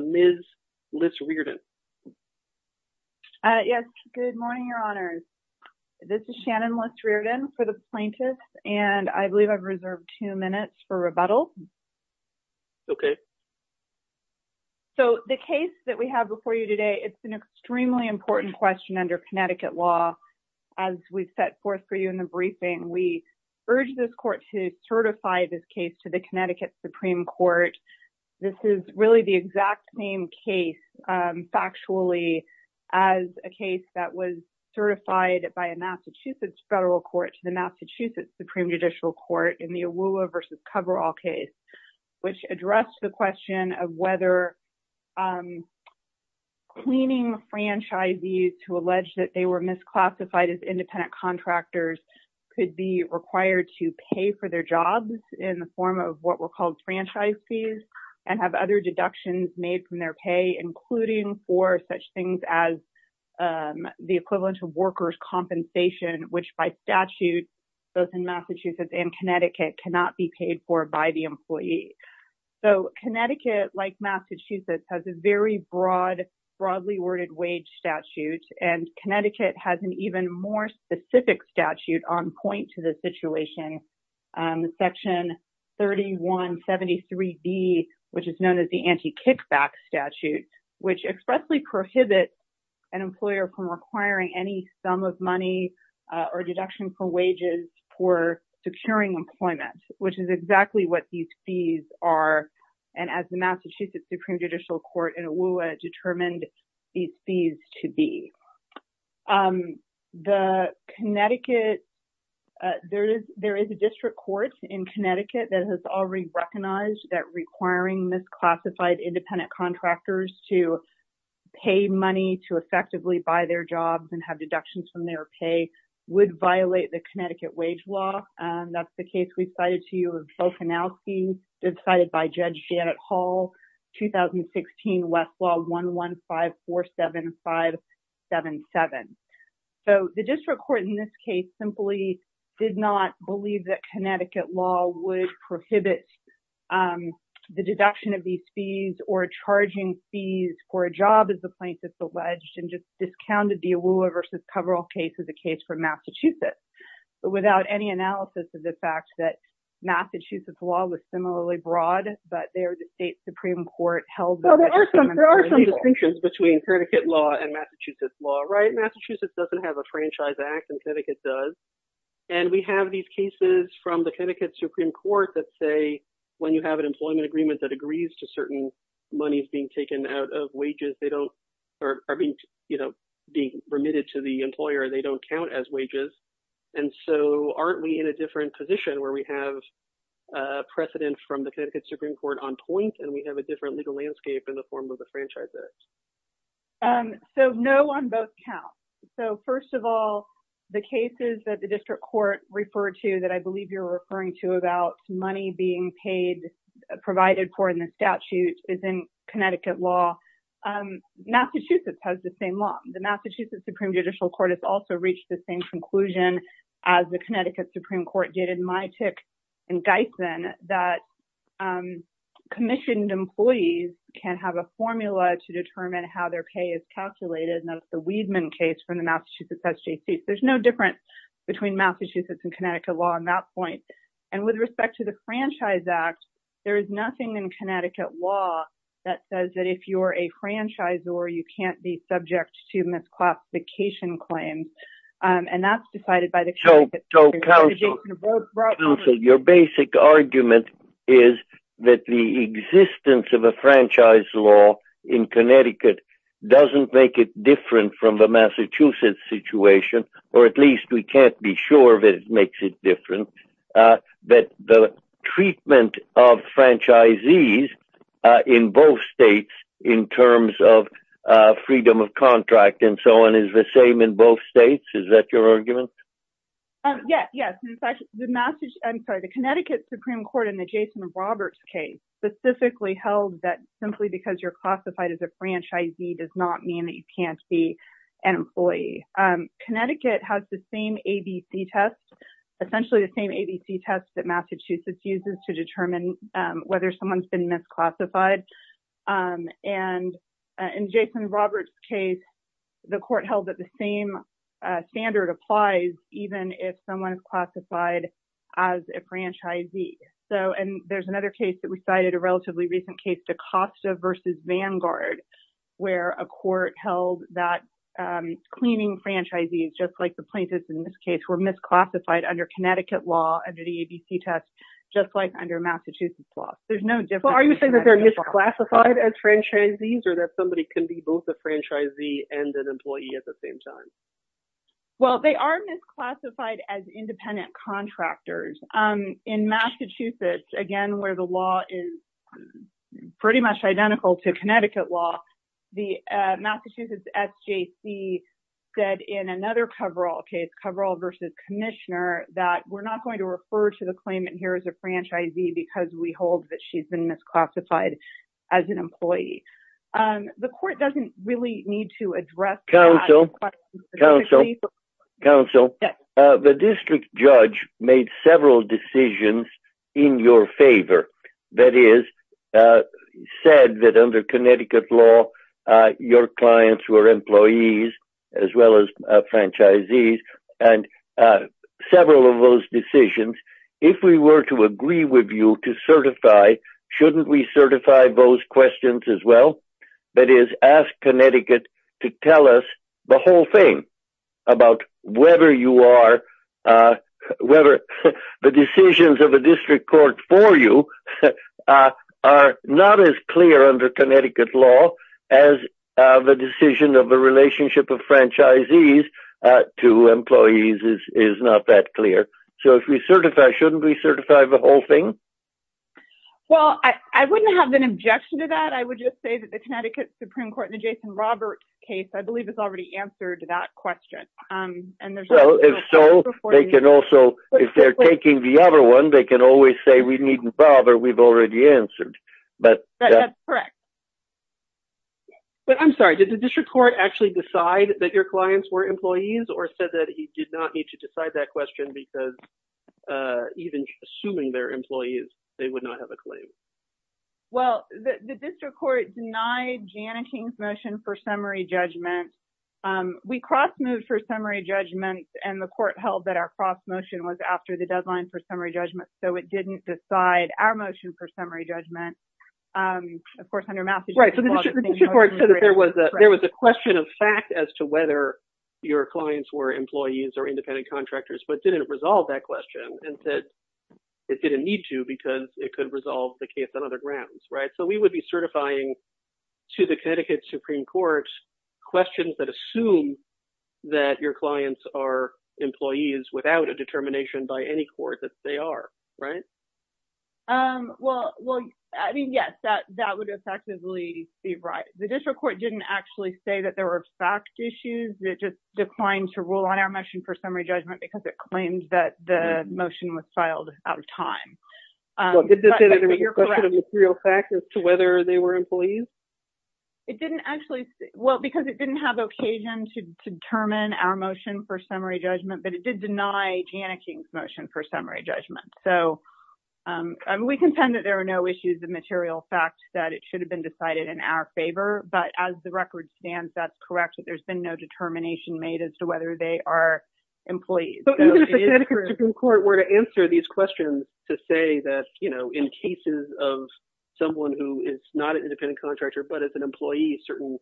Ms. Liz Rearden. Good morning, Your Honors. This is Shannon Liz Rearden for the plaintiffs, and I believe I've reserved two minutes for rebuttal. Okay. So the case that we have before you today, it's an extremely important question under Connecticut law. As we set forth for you in the briefing, we urge this court to certify this case to the Connecticut Supreme Court. This is really the exact same case, factually, as a case that was certified by a Massachusetts federal court to the Massachusetts Supreme Judicial Court in the Awuah v. Coverall case, which addressed the question of whether cleaning franchisees who alleged that they were misclassified as independent contractors could be required to pay for their jobs in the form of what were called franchisees and have other deductions made from their pay, including for such things as the equivalent of workers' compensation, which by statute, both in Massachusetts and in Tennessee. So Connecticut, like Massachusetts, has a very broadly worded wage statute, and Connecticut has an even more specific statute on point to the situation, Section 3173B, which is known as the Anti-Kickback Statute, which expressly prohibits an employer from requiring any sum of money or deduction for wages for securing employment, which is exactly what these fees are, and as the Massachusetts Supreme Judicial Court in Awuah determined these fees to be. The Connecticut, there is a district court in Connecticut that has already recognized that requiring misclassified independent contractors to pay money to effectively buy their jobs and have deductions from their pay would violate the Connecticut wage law. That's the case we cited to you of Bokanowski, cited by Judge Janet Hall, 2016 Westlaw 11547577. So the district court in this case simply did not believe that Connecticut law would prohibit the deduction of these fees or charging fees for a job as the plaintiff alleged and just discounted the Awuah v. Coverall case as a case for Massachusetts, but without any analysis of the fact that Massachusetts law was similarly broad, but their state Supreme Court held that. Well, there are some, there are some distinctions between Connecticut law and Massachusetts law, right? Massachusetts doesn't have a franchise act and Connecticut does, and we have these cases from the Connecticut Supreme Court that say when you have an employment agreement that agrees to certain monies being taken out of wages, they don't, or are being, you know, being remitted to the employer, they don't count as wages. And so aren't we in a different position where we have a precedent from the Connecticut Supreme Court on point and we have a different legal landscape in the form of the franchise act? Um, so no on both counts. So first of all, the cases that the district court referred to that I believe you're referring to about money being paid, provided for in the statute is in Connecticut law. Um, Massachusetts has the same law. The Massachusetts Supreme Judicial Court has also reached the same conclusion as the Connecticut Supreme Court did in my tick and Geithsen that, um, commissioned employees can have a formula to determine how their pay is calculated. And that's the Weidman case from the Massachusetts SJC. There's no difference between Massachusetts and Connecticut law on that point. And with respect to the franchise act, there is nothing in Connecticut law that says that if you're a franchisor, you can't be subject to misclassification claims. And that's decided by the, so your basic argument is that the existence of a franchise law in Connecticut doesn't make it different from the Massachusetts situation, or at least we in terms of freedom of contract and so on is the same in both states. Is that your argument? Yes. Yes. In fact, the Massachusetts, I'm sorry, the Connecticut Supreme Court in the Jason Roberts case specifically held that simply because you're classified as a franchisee does not mean that you can't be an employee. Connecticut has the same ABC test, essentially the same ABC test that Massachusetts uses to determine whether someone's been misclassified. And in Jason Roberts case, the court held that the same standard applies, even if someone is classified as a franchisee. So and there's another case that we cited a relatively recent case to Costa versus Vanguard, where a court held that cleaning franchisees just like the plaintiffs in this case were misclassified under Connecticut law under the ABC test, just like under Massachusetts law. There's no difference. Well, are you saying that they're misclassified as franchisees or that somebody can be both the franchisee and an employee at the same time? Well, they are misclassified as independent contractors. In Massachusetts, again, where the law is pretty much identical to Connecticut law, the Massachusetts SJC said in another coverall case, coverall versus commissioner, that we're not going to refer to the claimant here as a franchisee because we hold that she's been misclassified as an employee. The court doesn't really need to address counsel counsel counsel. The district judge made several decisions in your favor. That is said that under Connecticut law, your clients were employees as well as franchisees. And several of those decisions, if we were to agree with you to certify, shouldn't we certify those questions as well? That is, ask Connecticut to tell us the whole thing about whether you are whether the decisions of a district court for you are not as clear under Connecticut law as the decision of the relationship of franchisees to employees is not that clear. So if we certify, shouldn't we certify the whole thing? Well, I wouldn't have an objection to that. I would just say that the Connecticut Supreme Court in the Jason Robert case, I believe has already answered that question. So they can also, if they're taking the other one, they can always say we needn't bother. We've already answered. But that's correct. But I'm sorry, did the district court actually decide that your clients were employees or said that he did not need to decide that question because even assuming they're employees, they would not have a claim? Well, the district court denied Janet King's motion for summary judgment. We cross moved for summary judgment and the court held that our motion was after the deadline for summary judgment. So it didn't decide our motion for summary judgment. Of course, under Massachusetts law, there was a question of fact as to whether your clients were employees or independent contractors, but didn't resolve that question and said it didn't need to because it could resolve the case on other grounds. Right. So we would be certifying to the Connecticut Supreme Court questions that assume that your clients are employees without a determination by any court that they are. Right. Well, well, I mean, yes, that that would effectively be right. The district court didn't actually say that there were fact issues that just declined to rule on our motion for summary judgment because it claims that the motion was filed out of time. So you're correct. Well, did the district court have a question of material fact as to whether they were employees? It didn't actually. Well, because it didn't have occasion to determine our motion for summary judgment, but it did deny Janet King's motion for summary judgment. So we contend that there are no issues of material fact that it should have been decided in our favor. But as the record stands, that's correct, that there's been no determination made as to whether they are employees. So if the Connecticut Supreme Court were to answer these questions to say that, you know, in cases of someone who is not an independent contractor, but as an employee, certain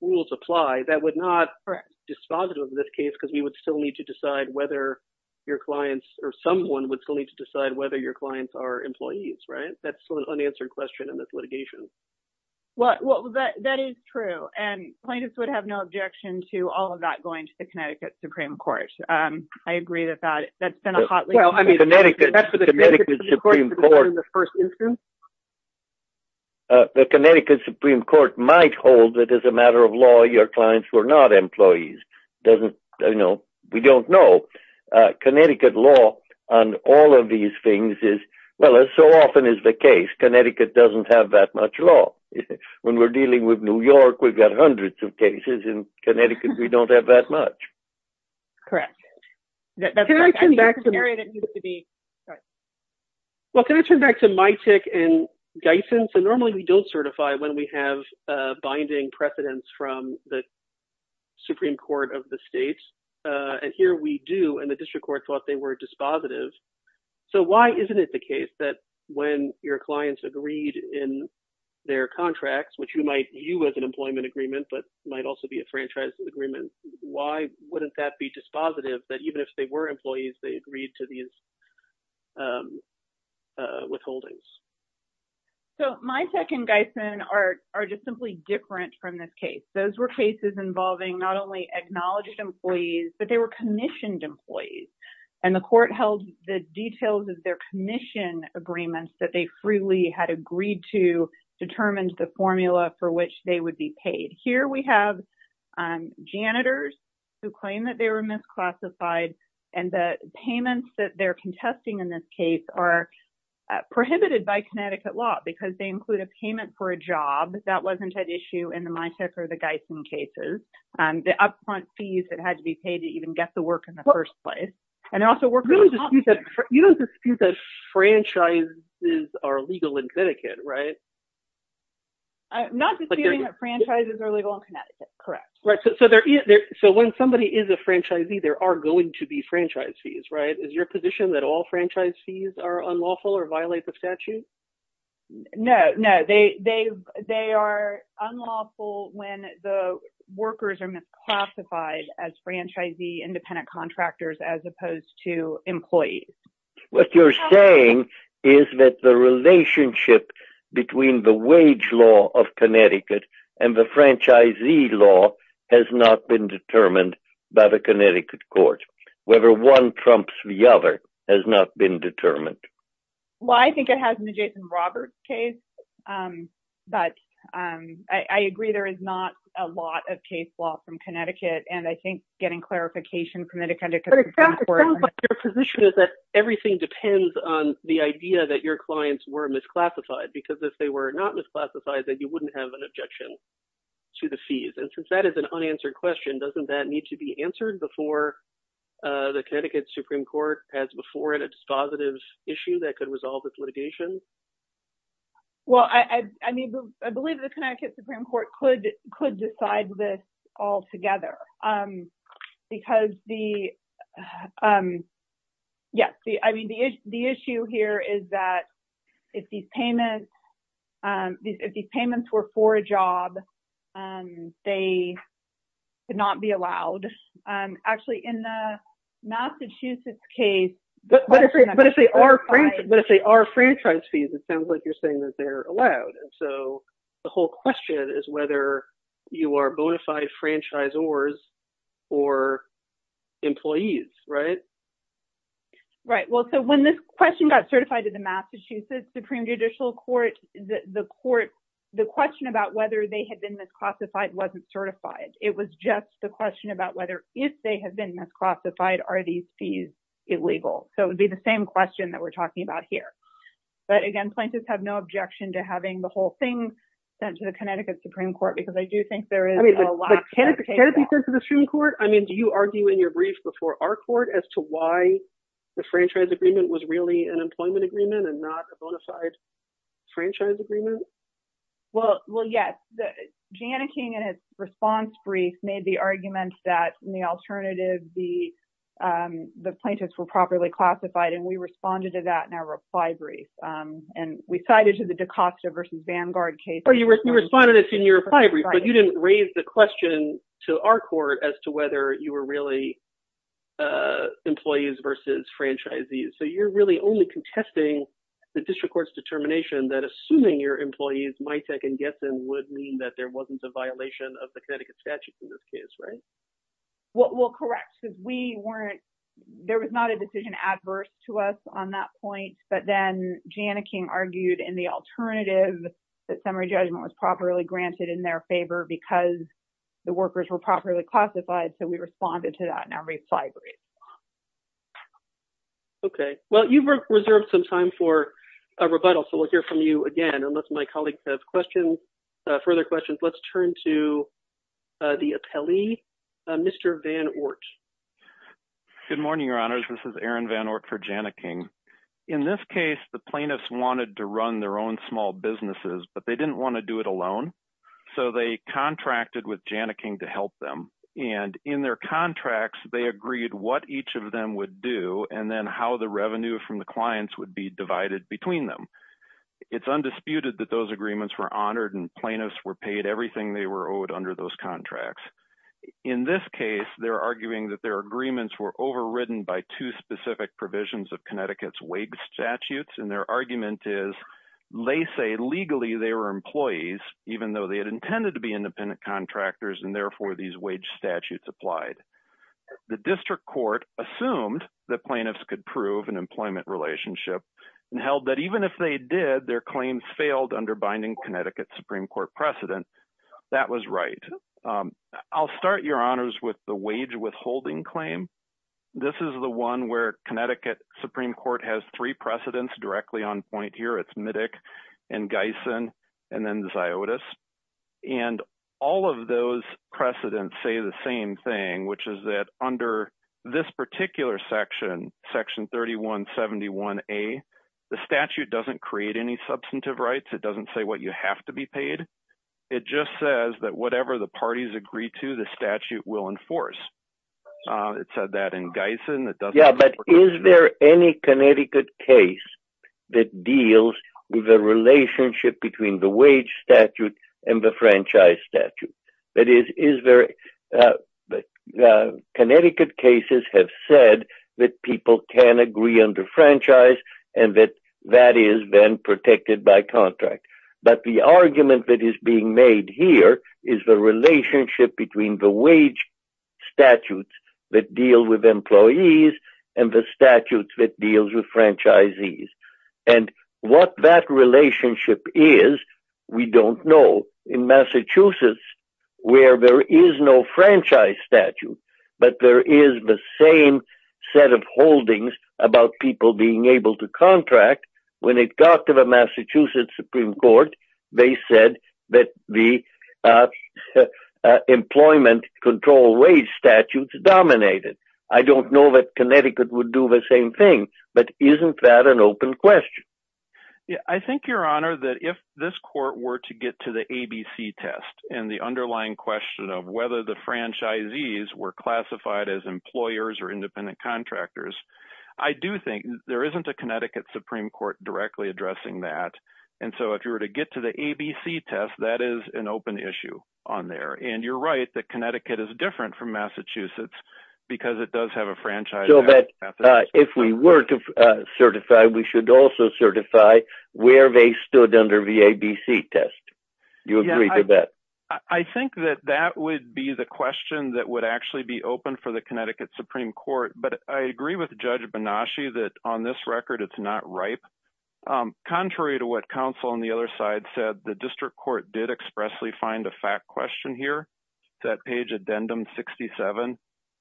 rules apply, that would not be dispositive of this case because we would still need to decide whether your clients or someone would still need to decide whether your clients are employees. Right. That's an unanswered question in this litigation. Well, well, that is true. And plaintiffs would have no objection to all of that going to the Connecticut Supreme Court. I agree with that. That's been a hotly- Well, I mean, that's for the Connecticut Supreme Court to determine in the first instance. The Connecticut Supreme Court might hold that as a matter of law, your clients were not employees. Doesn't, you know, we don't know. Connecticut law on all of these things is, well, as so often is the case, Connecticut doesn't have that much law. When we're dealing with New York, we've got hundreds of cases. In Connecticut, we don't have that much. Correct. Can I turn back to- That's the area that needs to be- Sorry. Well, can I turn back to Mytick and Gysin? So normally we don't certify when we have binding precedents from the Supreme Court of the States. And here we do, and the district court thought they were dispositive. So why isn't it the case that when your clients agreed in their contracts, which you might be in an employment agreement, but might also be a franchise agreement, why wouldn't that be dispositive that even if they were employees, they agreed to these withholdings? So Mytick and Gysin are just simply different from this case. Those were cases involving not only acknowledged employees, but they were commissioned employees. And the court held the details of their commission agreements that they freely had agreed to and determined the formula for which they would be paid. Here we have janitors who claim that they were misclassified and the payments that they're contesting in this case are prohibited by Connecticut law because they include a payment for a job that wasn't at issue in the Mytick or the Gysin cases, the upfront fees that had to be paid to even get the work in the first place. And also we're- You don't dispute that franchises are legal in Connecticut, right? Not disputing that franchises are legal in Connecticut, correct. So when somebody is a franchisee, there are going to be franchise fees, right? Is your position that all franchise fees are unlawful or violate the statute? No, no. They are unlawful when the workers are misclassified as franchisee independent contractors as opposed to employees. What you're saying is that the relationship between the wage law of Connecticut and the franchisee law has not been determined by the Connecticut court. Whether one trumps the other has not been determined. Well, I think it has in the Jason Roberts case, but I agree there is not a lot of case law from Connecticut. And I think getting clarification from the Connecticut Supreme Court- But it sounds like your position is that everything depends on the idea that your clients were misclassified because if they were not misclassified, then you wouldn't have an objection to the fees. And since that is an unanswered question, doesn't that need to be answered before the Connecticut Supreme Court has before it a dispositive issue that could resolve this litigation? Well, I mean, I believe the Connecticut Supreme Court could decide this all together because the, yes, I mean, the issue here is that if these payments were for a job, they could not be allowed. Actually, in the Massachusetts case- But if they are franchise fees, it sounds like you're saying that they're allowed. So the whole question is whether you are bona fide franchisors or employees, right? Right. Well, so when this question got certified to the Massachusetts Supreme Judicial Court, the court, the question about whether they had been misclassified wasn't certified. It was just the question about whether if they have been misclassified, are these fees illegal? So it would be the same question that we're talking about here. But again, plaintiffs have no objection to having the whole thing sent to the Connecticut Supreme Court because I do think there is a lack of- I mean, but can it be sent to the Supreme Court? I mean, do you argue in your brief before our court as to why the franchise agreement was really an employment agreement and not a bona fide franchise agreement? Well, yes. Jana King, in his response brief, made the argument that in the alternative, the plaintiffs were properly classified. And we responded to that in our reply brief. And we cited to the DaCosta versus Vanguard case- You responded to this in your reply brief, but you didn't raise the question to our court as to whether you were really employees versus franchisees. So you're really only contesting the district court's determination that assuming your employees MITEC and GESN would mean that there wasn't a violation of the Connecticut statutes in this case, right? Well, correct. Because we weren't- There was not a decision adverse to us on that point. But then Jana King argued in the alternative that summary judgment was properly granted in their favor because the workers were properly classified. So we responded to that in our reply brief. Okay. Well, you've reserved some time for a rebuttal. So we'll hear from you again. Unless my colleagues have questions, further questions, let's turn to the appellee, Mr. Van Ort. Good morning, Your Honors. This is Aaron Van Ort for Jana King. In this case, the plaintiffs wanted to run their own small businesses, but they didn't want to do it alone. So they contracted with Jana King to help them. And in their contracts, they agreed what each of them would do and then how the revenue from the clients would be divided between them. It's undisputed that those agreements were honored and plaintiffs were paid everything they were owed under those contracts. In this case, they're arguing that their agreements were overridden by two specific provisions of Connecticut's wage statutes. And their argument is they say legally they were employees, even though they had intended to be independent contractors and therefore these wage statutes applied. The district court assumed that plaintiffs could prove an employment relationship and held that even if they did, their claims failed under binding Connecticut Supreme Court precedent. That was right. I'll start, Your Honors, with the wage withholding claim. This is the one where Connecticut Supreme Court has three precedents directly on point here. It's Middick and Gysin and then Ziotis. And all of those precedents say the same thing, which is that under this particular section, Section 3171A, the statute doesn't create any substantive rights. It doesn't say what you have to be paid. It just says that whatever the parties agree to, the statute will enforce. It said that in Gysin. Yeah, but is there any Connecticut case that deals with the relationship between the wage statute and the franchise statute? That is, Connecticut cases have said that people can agree under franchise and that that is then protected by contract. But the argument that is being made here is the relationship between the wage statutes that deal with employees and the statutes that deal with franchisees. And what that relationship is, we don't know. In Massachusetts, where there is no franchise statute, but there is the same set of holdings about people being able to contract, when it got to the Massachusetts Supreme Court, they said that the employment control wage statutes dominated. I don't know that Connecticut would do the same thing, but isn't that an open question? I think, Your Honor, that if this court were to get to the ABC test and the underlying question of whether the franchisees were classified as employers or independent contractors, I do think there isn't a Connecticut Supreme Court directly addressing that. And so if you were to get to the ABC test, that is an open issue on there. And you're right that Connecticut is different from Massachusetts because it does have a franchise statute. So, but if we were to certify, we should also certify where they stood under the ABC test. You agree to that? I think that that would be the question that would actually be open for the Connecticut Supreme Court. But I agree with Judge Banaschi that on this record, it's not ripe. Contrary to what counsel on the other side said, the district court did expressly find a fact question here, that page addendum 67.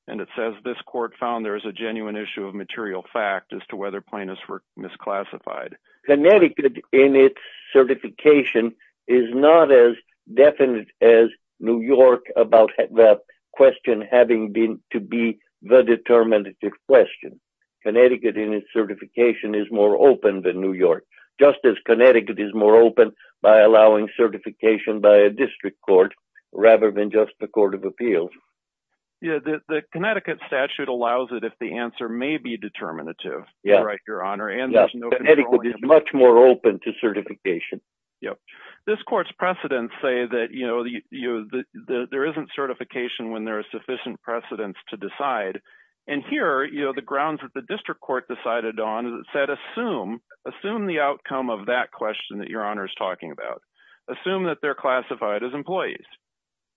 And it says this court found there is a genuine issue of material fact as to whether plaintiffs were misclassified. Connecticut in its certification is not as definite as New York about the question having been to be the determinative question. Connecticut in its certification is more open than New York, just as Connecticut is more open by allowing certification by a district court rather than just the Court of Appeals. Yeah, the Connecticut statute allows it if the answer may be determinative. You're right, Your Honor. Connecticut is much more open to certification. This court's precedents say that there isn't certification when there are sufficient precedents to decide. And here, the grounds that the district court decided on is that it said, assume the outcome of that question that Your Honor is talking about. Assume that they're classified as employees.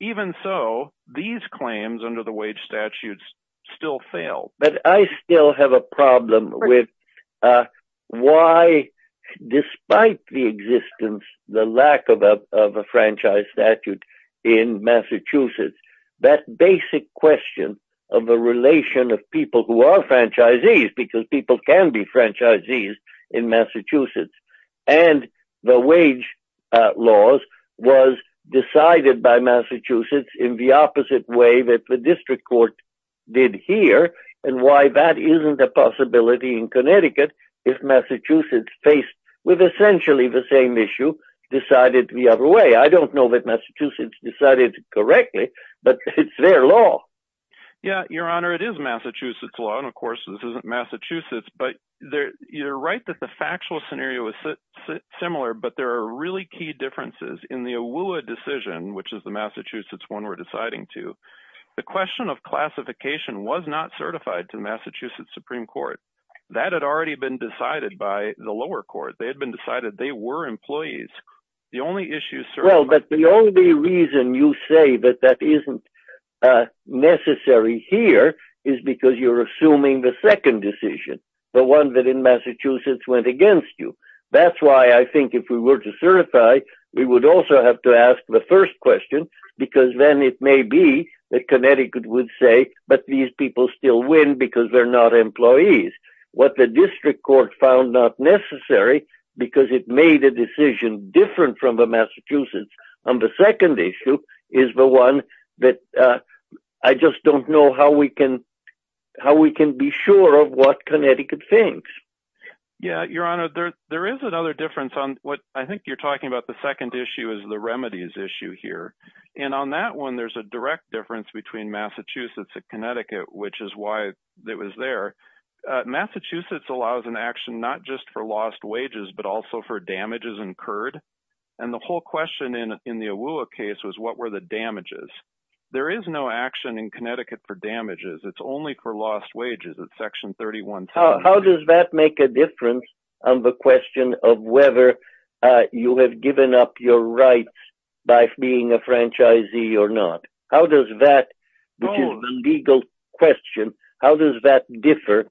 Even so, these claims under the wage statutes still fail. But I still have a problem with why, despite the existence, the lack of a franchise statute in Massachusetts, that basic question of the relation of people who are franchisees, because people can be franchisees in Massachusetts, and the wage laws was decided by Massachusetts in the opposite way that the district court did here, and why that isn't a possibility in Connecticut if Massachusetts, faced with essentially the same issue, decided the other way. I don't know that Massachusetts decided correctly, but it's their law. Yeah, Your Honor, it is Massachusetts' law, and of course, this isn't Massachusetts. But you're right that the factual scenario is similar, but there are really key differences in the AWUA decision, which is the Massachusetts one we're deciding to, the question of classification was not certified to Massachusetts Supreme Court. That had already been decided by the lower court. They had been decided they were employees. The only issue- Well, but the only reason you say that that isn't necessary here is because you're assuming the second decision, the one that in Massachusetts went against you. That's why I think if we were to certify, we would also have to ask the first question, because then it may be that Connecticut would say, but these people still win because they're not employees. What the district court found not necessary, because it made a decision different from the Massachusetts on the second issue, is the one that I just don't know how we can be sure of what Connecticut thinks. Yeah, Your Honor, there is another difference on what I think you're talking about. The second issue is the remedies issue here. And on that one, there's a direct difference between Massachusetts and Connecticut, which is why it was there. Massachusetts allows an action not just for lost wages, but also for damages incurred. And the whole question in the AWUA case was, what were the damages? There is no action in Connecticut for damages. It's only for lost wages. It's Section 31-2. How does that make a difference on the question of whether you have given up your rights by being a franchisee or not? How does that, which is a legal question, how does that differ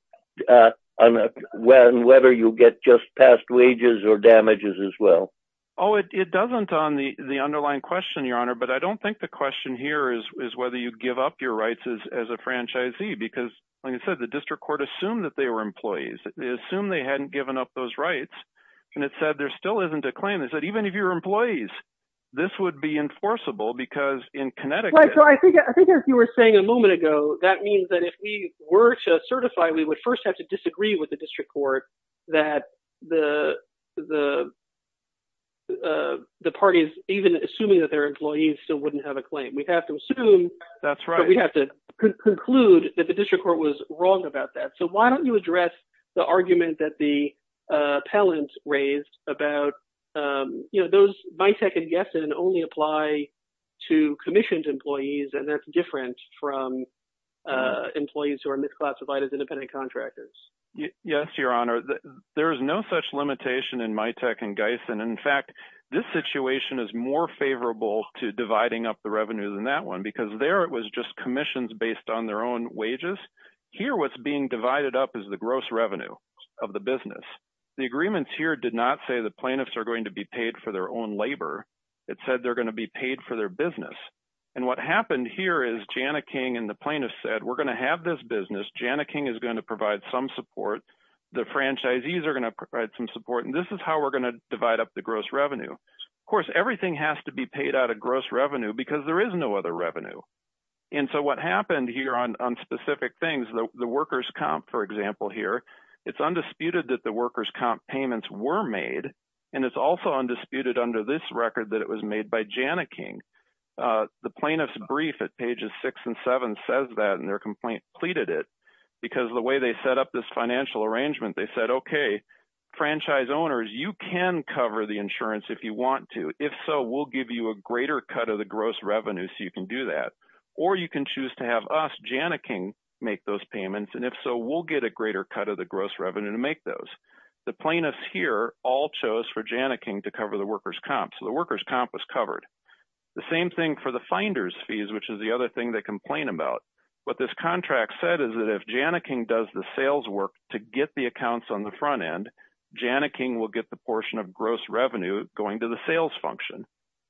on whether you get just passed wages or damages as well? Oh, it doesn't on the underlying question, Your Honor. But I don't think the question here is whether you give up your rights as a franchisee, because like I said, the district court assumed that they were employees. They assumed they hadn't given up those rights. And it said there still isn't a claim. It said even if you're employees, this would be enforceable because in Connecticut... Right, so I think as you were saying a moment ago, that means that if we were to certify, we would first have to disagree with the district court that the parties, even assuming that they're employees, still wouldn't have a claim. We'd have to assume... That's right. We'd have to conclude that the district court was wrong about that. So why don't you address the argument that the appellant raised about those MITEC and GEISEN only apply to commissioned employees, and that's different from employees who are misclassified as independent contractors? Yes, Your Honor. There's no such limitation in MITEC and GEISEN. In fact, this situation is more favorable to dividing up the revenue than that one, because there it was just commissions based on their own wages. Here what's being divided up is the gross revenue of the business. The agreements here did not say the plaintiffs are going to be paid for their own labor. It said they're going to be paid for their business. And what happened here is Jana King and the plaintiffs said, we're going to have this business. Jana King is going to provide some support. The franchisees are going to provide some support, and this is how we're going to divide up the gross revenue. Of course, everything has to be paid out of gross revenue because there is no other revenue. And so what happened here on specific things, the workers' comp, for example, here, it's undisputed that the workers' comp payments were made, and it's also undisputed under this record that it was made by Jana King. The plaintiff's brief at pages six and seven says that, and their complaint pleaded it, because the way they set up this financial arrangement, they said, okay, franchise owners, you can cover the insurance if you want to. If so, we'll give you a greater cut of the gross revenue so you can do that. Or you can choose to have us, Jana King, make those payments, and if so, we'll get a greater cut of the gross revenue to make those. The plaintiffs here all chose for Jana King to cover the workers' comp, so the workers' comp was covered. The same thing for the finder's fees, which is the other thing they complain about. What this contract said is that if Jana King does the sales work to get the accounts on the front end, Jana King will get the portion of gross revenue going to the sales function.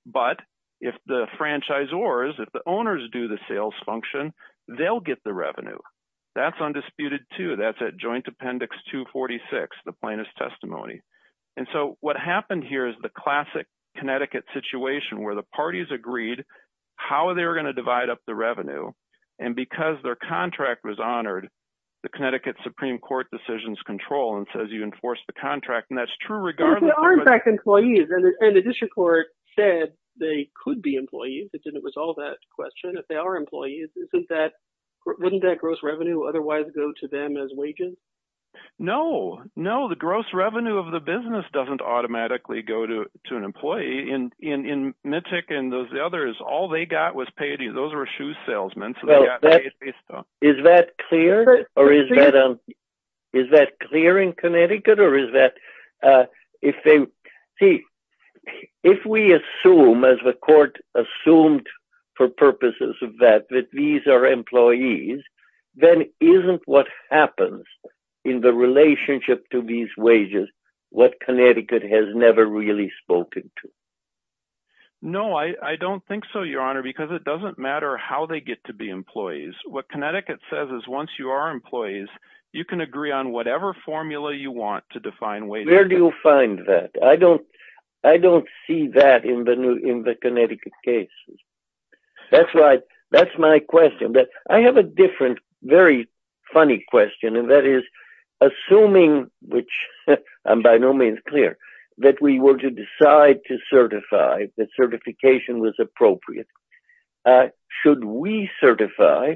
But if the franchisors, if the owners do the sales function, they'll get the revenue. That's undisputed, too. That's at Joint Appendix 246, the plaintiff's testimony. And so what happened here is the classic Connecticut situation where the parties agreed how they were going to divide up the revenue, and because their contract was honored, the Connecticut Supreme Court decisions control and says you enforce the contract, and that's true, regardless of... If they are, in fact, employees, and the district court said they could be employees, it didn't resolve that question, if they are employees, wouldn't that gross revenue otherwise go to them as wages? No. No, the gross revenue of the business doesn't automatically go to an employee. In Mittig and the others, all they got was paid...those were shoes salesmen, so they got paid based on... Is that clear, or is that...is that clear in Connecticut, or is that...if they...see, if we assume, as the court assumed for purposes of that, that these are employees, then isn't what happens in the relationship to these wages what Connecticut has never really spoken to? No, I don't think so, Your Honor, because it doesn't matter how they get to be employees. What Connecticut says is once you are employees, you can agree on whatever formula you want to define wages. Where do you find that? I don't...I don't see that in the Connecticut case. That's why...that's my question, but I have a different, very funny question, and that is, assuming, which I'm by no means clear, that we were to decide to certify that certification was appropriate, should we certify,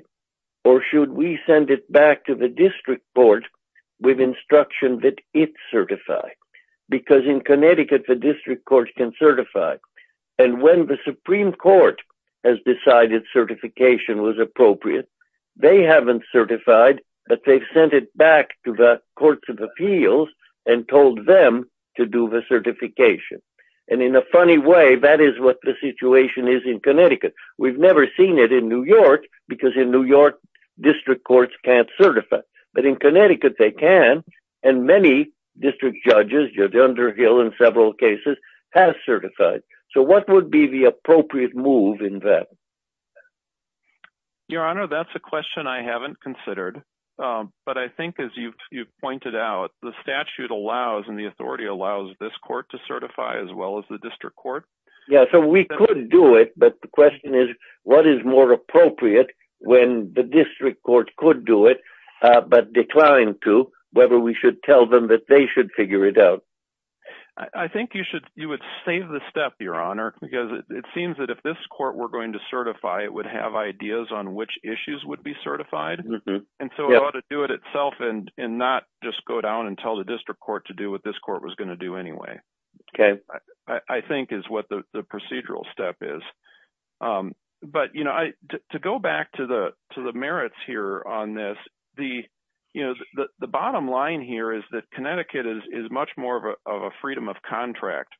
or should we send it back to the district court with instruction that it certify? Because in Connecticut, the district court can certify, and when the Supreme Court has decided certification was appropriate, they haven't certified, but they've sent it back to the courts of appeals and told them to do the certification. And in a funny way, that is what the situation is in Connecticut. We've never seen it in New York, because in New York, district courts can't certify, but in Connecticut, they can, and many district judges, Judge Underhill in several cases, have certified. So, what would be the appropriate move in that? Your Honor, that's a question I haven't considered, but I think, as you've pointed out, the statute allows, and the authority allows, this court to certify, as well as the district court. Yeah, so we could do it, but the question is, what is more appropriate when the district court could do it, but declined to, whether we should tell them that they should figure it out? I think you would save the step, Your Honor, because it seems that if this court were going to certify, it would have ideas on which issues would be certified. And so, it ought to do it itself, and not just go down and tell the district court to do what this court was going to do anyway, I think is what the procedural step is. But to go back to the merits here on this, the bottom line here is that Connecticut is much more of a freedom of contract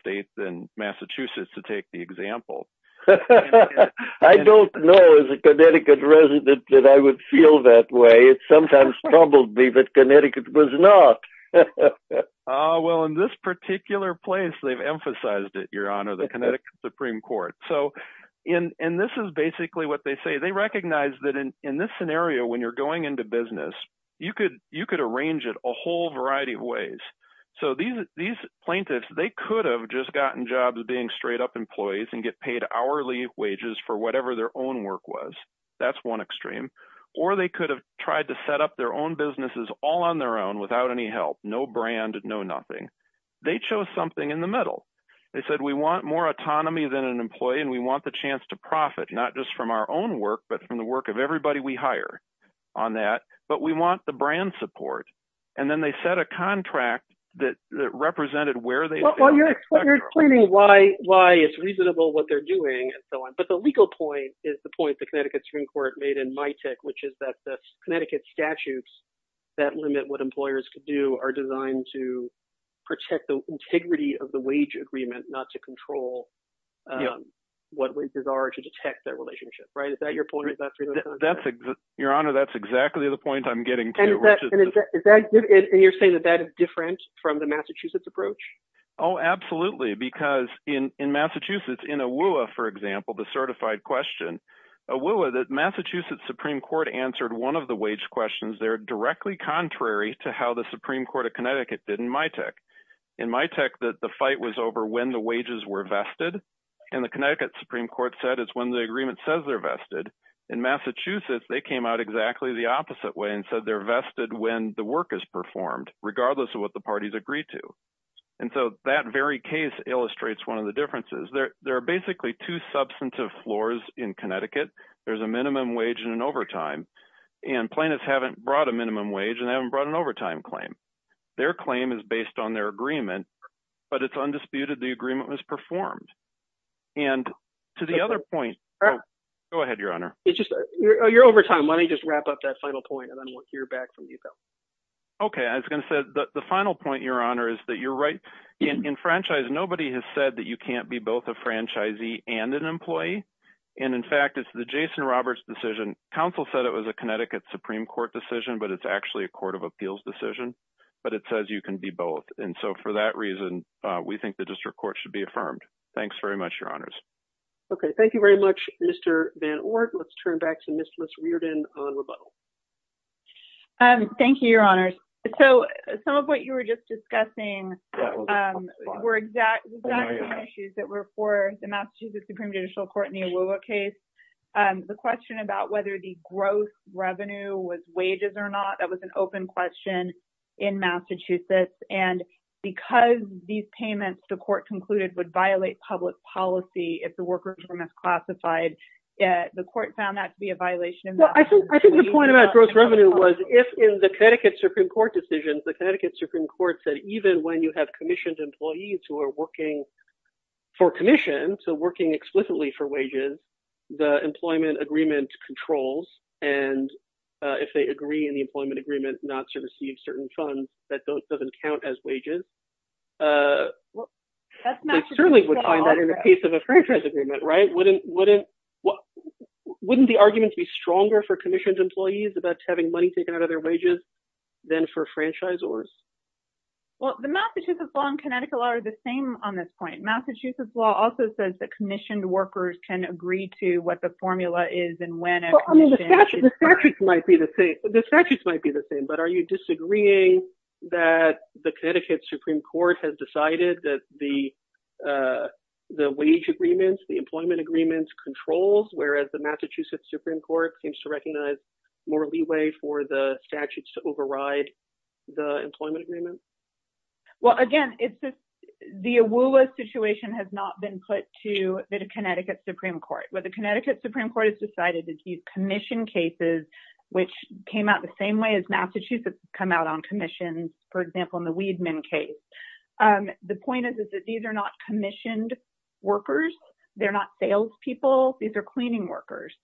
state than Massachusetts, to take the example. I don't know, as a Connecticut resident, that I would feel that way. It sometimes troubled me that Connecticut was not. Ah, well, in this particular place, they've emphasized it, Your Honor, the Connecticut Supreme Court. So, and this is basically what they say. They recognize that in this scenario, when you're going into business, you could arrange it a whole variety of ways. So these plaintiffs, they could have just gotten jobs being straight up employees and get paid hourly wages for whatever their own work was. That's one extreme. Or they could have tried to set up their own businesses all on their own, without any help, no brand, no nothing. They chose something in the middle. They said, we want more autonomy than an employee, and we want the chance to profit, not just from our own work, but from the work of everybody we hire on that. But we want the brand support. And then they set a contract that represented where they were. Well, you're explaining why it's reasonable what they're doing, and so on. But the legal point is the point the Connecticut Supreme Court made in my tech, which is that the Connecticut statutes that limit what employers could do are designed to protect the integrity of the wage agreement, not to control what wages are to detect that relationship. Right? Is that your point? That's it. Your Honor, that's exactly the point I'm getting to. And you're saying that that is different from the Massachusetts approach? Oh, absolutely. Because in Massachusetts, in a WUA, for example, the certified question, a WUA that Massachusetts Supreme Court answered one of the wage questions there directly contrary to how the Supreme Court of Connecticut did in my tech, in my tech that the fight was over when the wages were vested. And the Connecticut Supreme Court said it's when the agreement says they're vested. In Massachusetts, they came out exactly the opposite way and said they're vested when the work is performed, regardless of what the parties agreed to. And so that very case illustrates one of the differences. There are basically two substantive floors in Connecticut. There's a minimum wage and an overtime. And plaintiffs haven't brought a minimum wage and haven't brought an overtime claim. Their claim is based on their agreement, but it's undisputed the agreement was performed. And to the other point, go ahead, Your Honor. It's just, you're overtime. Let me just wrap up that final point, and then we'll hear back from you, Bill. Okay. I was going to say, the final point, Your Honor, is that you're right. In franchise, nobody has said that you can't be both a franchisee and an employee. And in fact, it's the Jason Roberts decision. Counsel said it was a Connecticut Supreme Court decision, but it's actually a court of appeals decision. But it says you can be both. And so for that reason, we think the district court should be affirmed. Thanks very much, Your Honors. Okay. Thank you very much, Mr. Van Oort. Let's turn back to Ms. Riordan on rebuttal. Thank you, Your Honors. So some of what you were just discussing were exact issues that were for the Massachusetts Supreme Judicial Court in the Iwua case. The question about whether the gross revenue was wages or not, that was an open question in Massachusetts. And because these payments, the court concluded, would violate public policy if the workers were misclassified. The court found that to be a violation of that. Well, I think the point about gross revenue was, if in the Connecticut Supreme Court decisions, the Connecticut Supreme Court said, even when you have commissioned employees who are working for commission, so working explicitly for wages, the employment agreement controls. And if they agree in the employment agreement not to receive certain funds that doesn't count as wages, they certainly would find that in the case of a franchise agreement, right? Wouldn't the argument be stronger for commissioned employees about having money taken out of their wages than for franchisors? Well, the Massachusetts law and Connecticut law are the same on this point. Massachusetts law also says that commissioned workers can agree to what the formula is and when a commission is required. Well, I mean, the statutes might be the same, but are you disagreeing that the Connecticut Supreme Court has decided that the wage agreements, the employment agreements controls, whereas the Massachusetts Supreme Court seems to recognize more leeway for the statutes to override the employment agreement? Well, again, it's just the AWULA situation has not been put to the Connecticut Supreme Court. What the Connecticut Supreme Court has decided is these commission cases, which came out the same way as Massachusetts come out on commissions, for example, in the Weidman case. The point is, is that these are not commissioned workers. They're not salespeople. These are cleaning workers.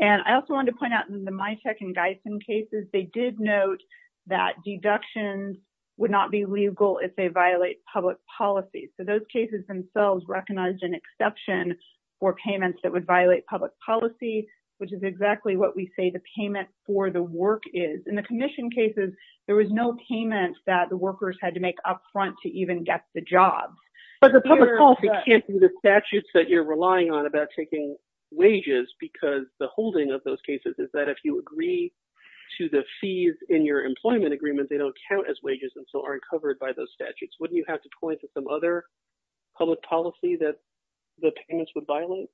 And I also wanted to point out in the MITEC and GEISEN cases, they did note that deductions would not be legal if they violate public policy. So those cases themselves recognized an exception for payments that would violate public policy, which is exactly what we say the payment for the work is. In the commission cases, there was no payment that the workers had to make up front to even get the job. But the public policy can't do the statutes that you're relying on about taking wages because the holding of those cases is that if you agree to the fees in your employment agreement, they don't count as wages and so aren't covered by those statutes. Wouldn't you have to point to some other public policy that the payments would violate?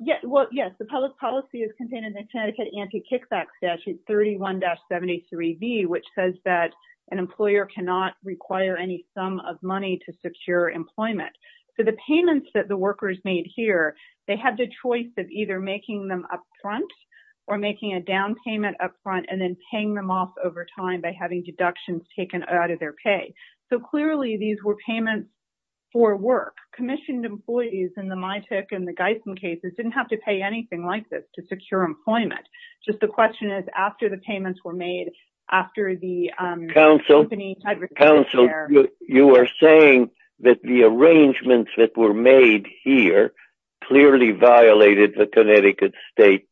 Yes, the public policy is contained in the Connecticut Anti-Kickback Statute 31-73B, which says that an employer cannot require any sum of money to secure employment. So the payments that the workers made here, they had the choice of either making them up front or making a down payment up front and then paying them off over time by having deductions taken out of their pay. So clearly these were payments for work. Commissioned employees in the MITIC and the GEISM cases didn't have to pay anything like this to secure employment. Just the question is, after the payments were made, after the company had received the care... Counsel, you are saying that the arrangements that were made here clearly violated the Connecticut state,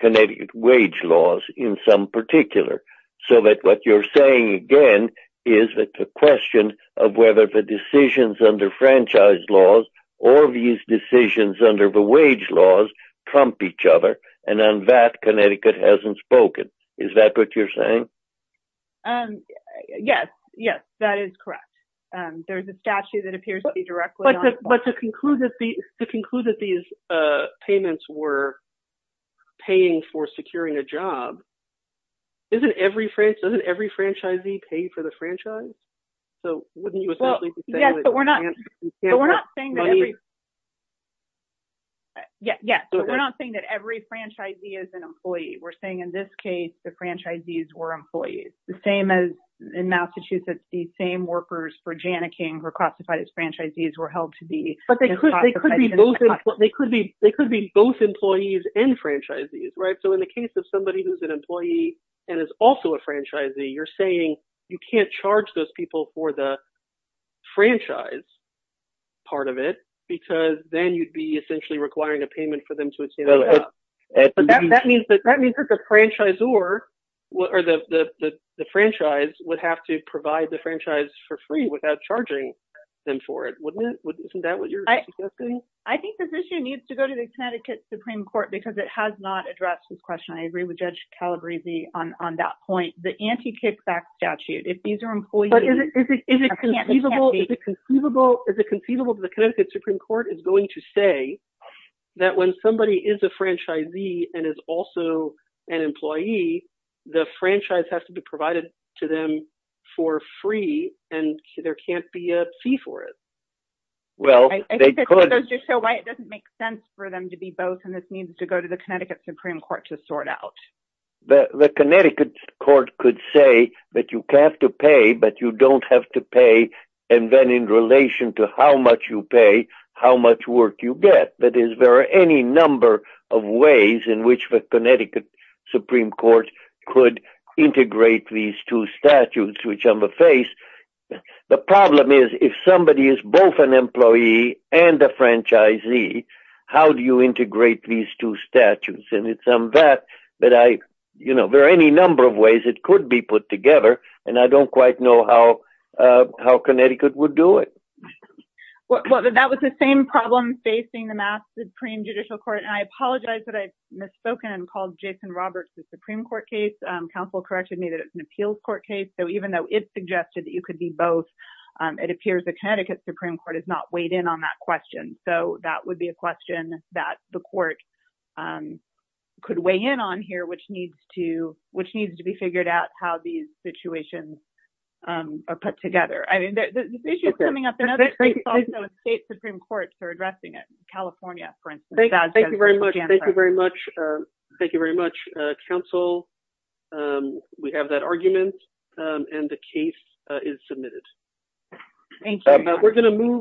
Connecticut wage laws in some particular. So that what you're saying again is that the question of whether the decisions under franchise laws or these decisions under the wage laws trump each other, and on that Connecticut hasn't spoken. Is that what you're saying? Yes, yes, that is correct. But to conclude that these payments were paying for securing a job, doesn't every franchisee pay for the franchise? So wouldn't you essentially be saying that you can't have money? Yes, but we're not saying that every franchisee is an employee. We're saying in this case, the franchisees were employees. The same as in Massachusetts, the same workers for Janneking were classified as franchisees were held to be. But they could be both employees and franchisees, right? So in the case of somebody who's an employee and is also a franchisee, you're saying you can't charge those people for the franchise part of it, because then you'd be essentially requiring a payment for them to obtain a job. But that means that the franchisor or the franchise would have to provide the franchise for free without charging them for it, wouldn't it? Isn't that what you're suggesting? I think this issue needs to go to the Connecticut Supreme Court, because it has not addressed this question. I agree with Judge Calabresi on that point. The anti-kickback statute, if these are employees- But is it conceivable that the Connecticut Supreme Court is going to say that when somebody is a franchisee and is also an employee, the franchise has to be provided to them for free, and there can't be a fee for it? Well, they could- I think that's just so why it doesn't make sense for them to be both, and this needs to go to the Connecticut Supreme Court to sort out. The Connecticut Court could say that you have to pay, but you don't have to pay. And then in relation to how much you pay, how much work you get. That is, there are any number of ways in which the Connecticut Supreme Court could integrate these two statutes, which I'm going to face. The problem is, if somebody is both an employee and a franchisee, how do you integrate these two statutes? And it's on that that I, you know, there are any number of ways it could be put together, and I don't quite know how Connecticut would do it. Well, that was the same problem facing the Mass Supreme Judicial Court, and I apologize that I've misspoken and called Jason Roberts the Supreme Court case. Counsel corrected me that it's an appeals court case, so even though it suggested that you could be both, it appears the Connecticut Supreme Court has not weighed in on that question. So that would be a question that the court could weigh in on here, which needs to be figured out how these situations are put together. I mean, this issue is coming up in other states also, and state Supreme Courts are addressing it. California, for instance. Thank you very much. Thank you very much. Thank you very much, counsel. We have that argument, and the case is submitted. Thank you.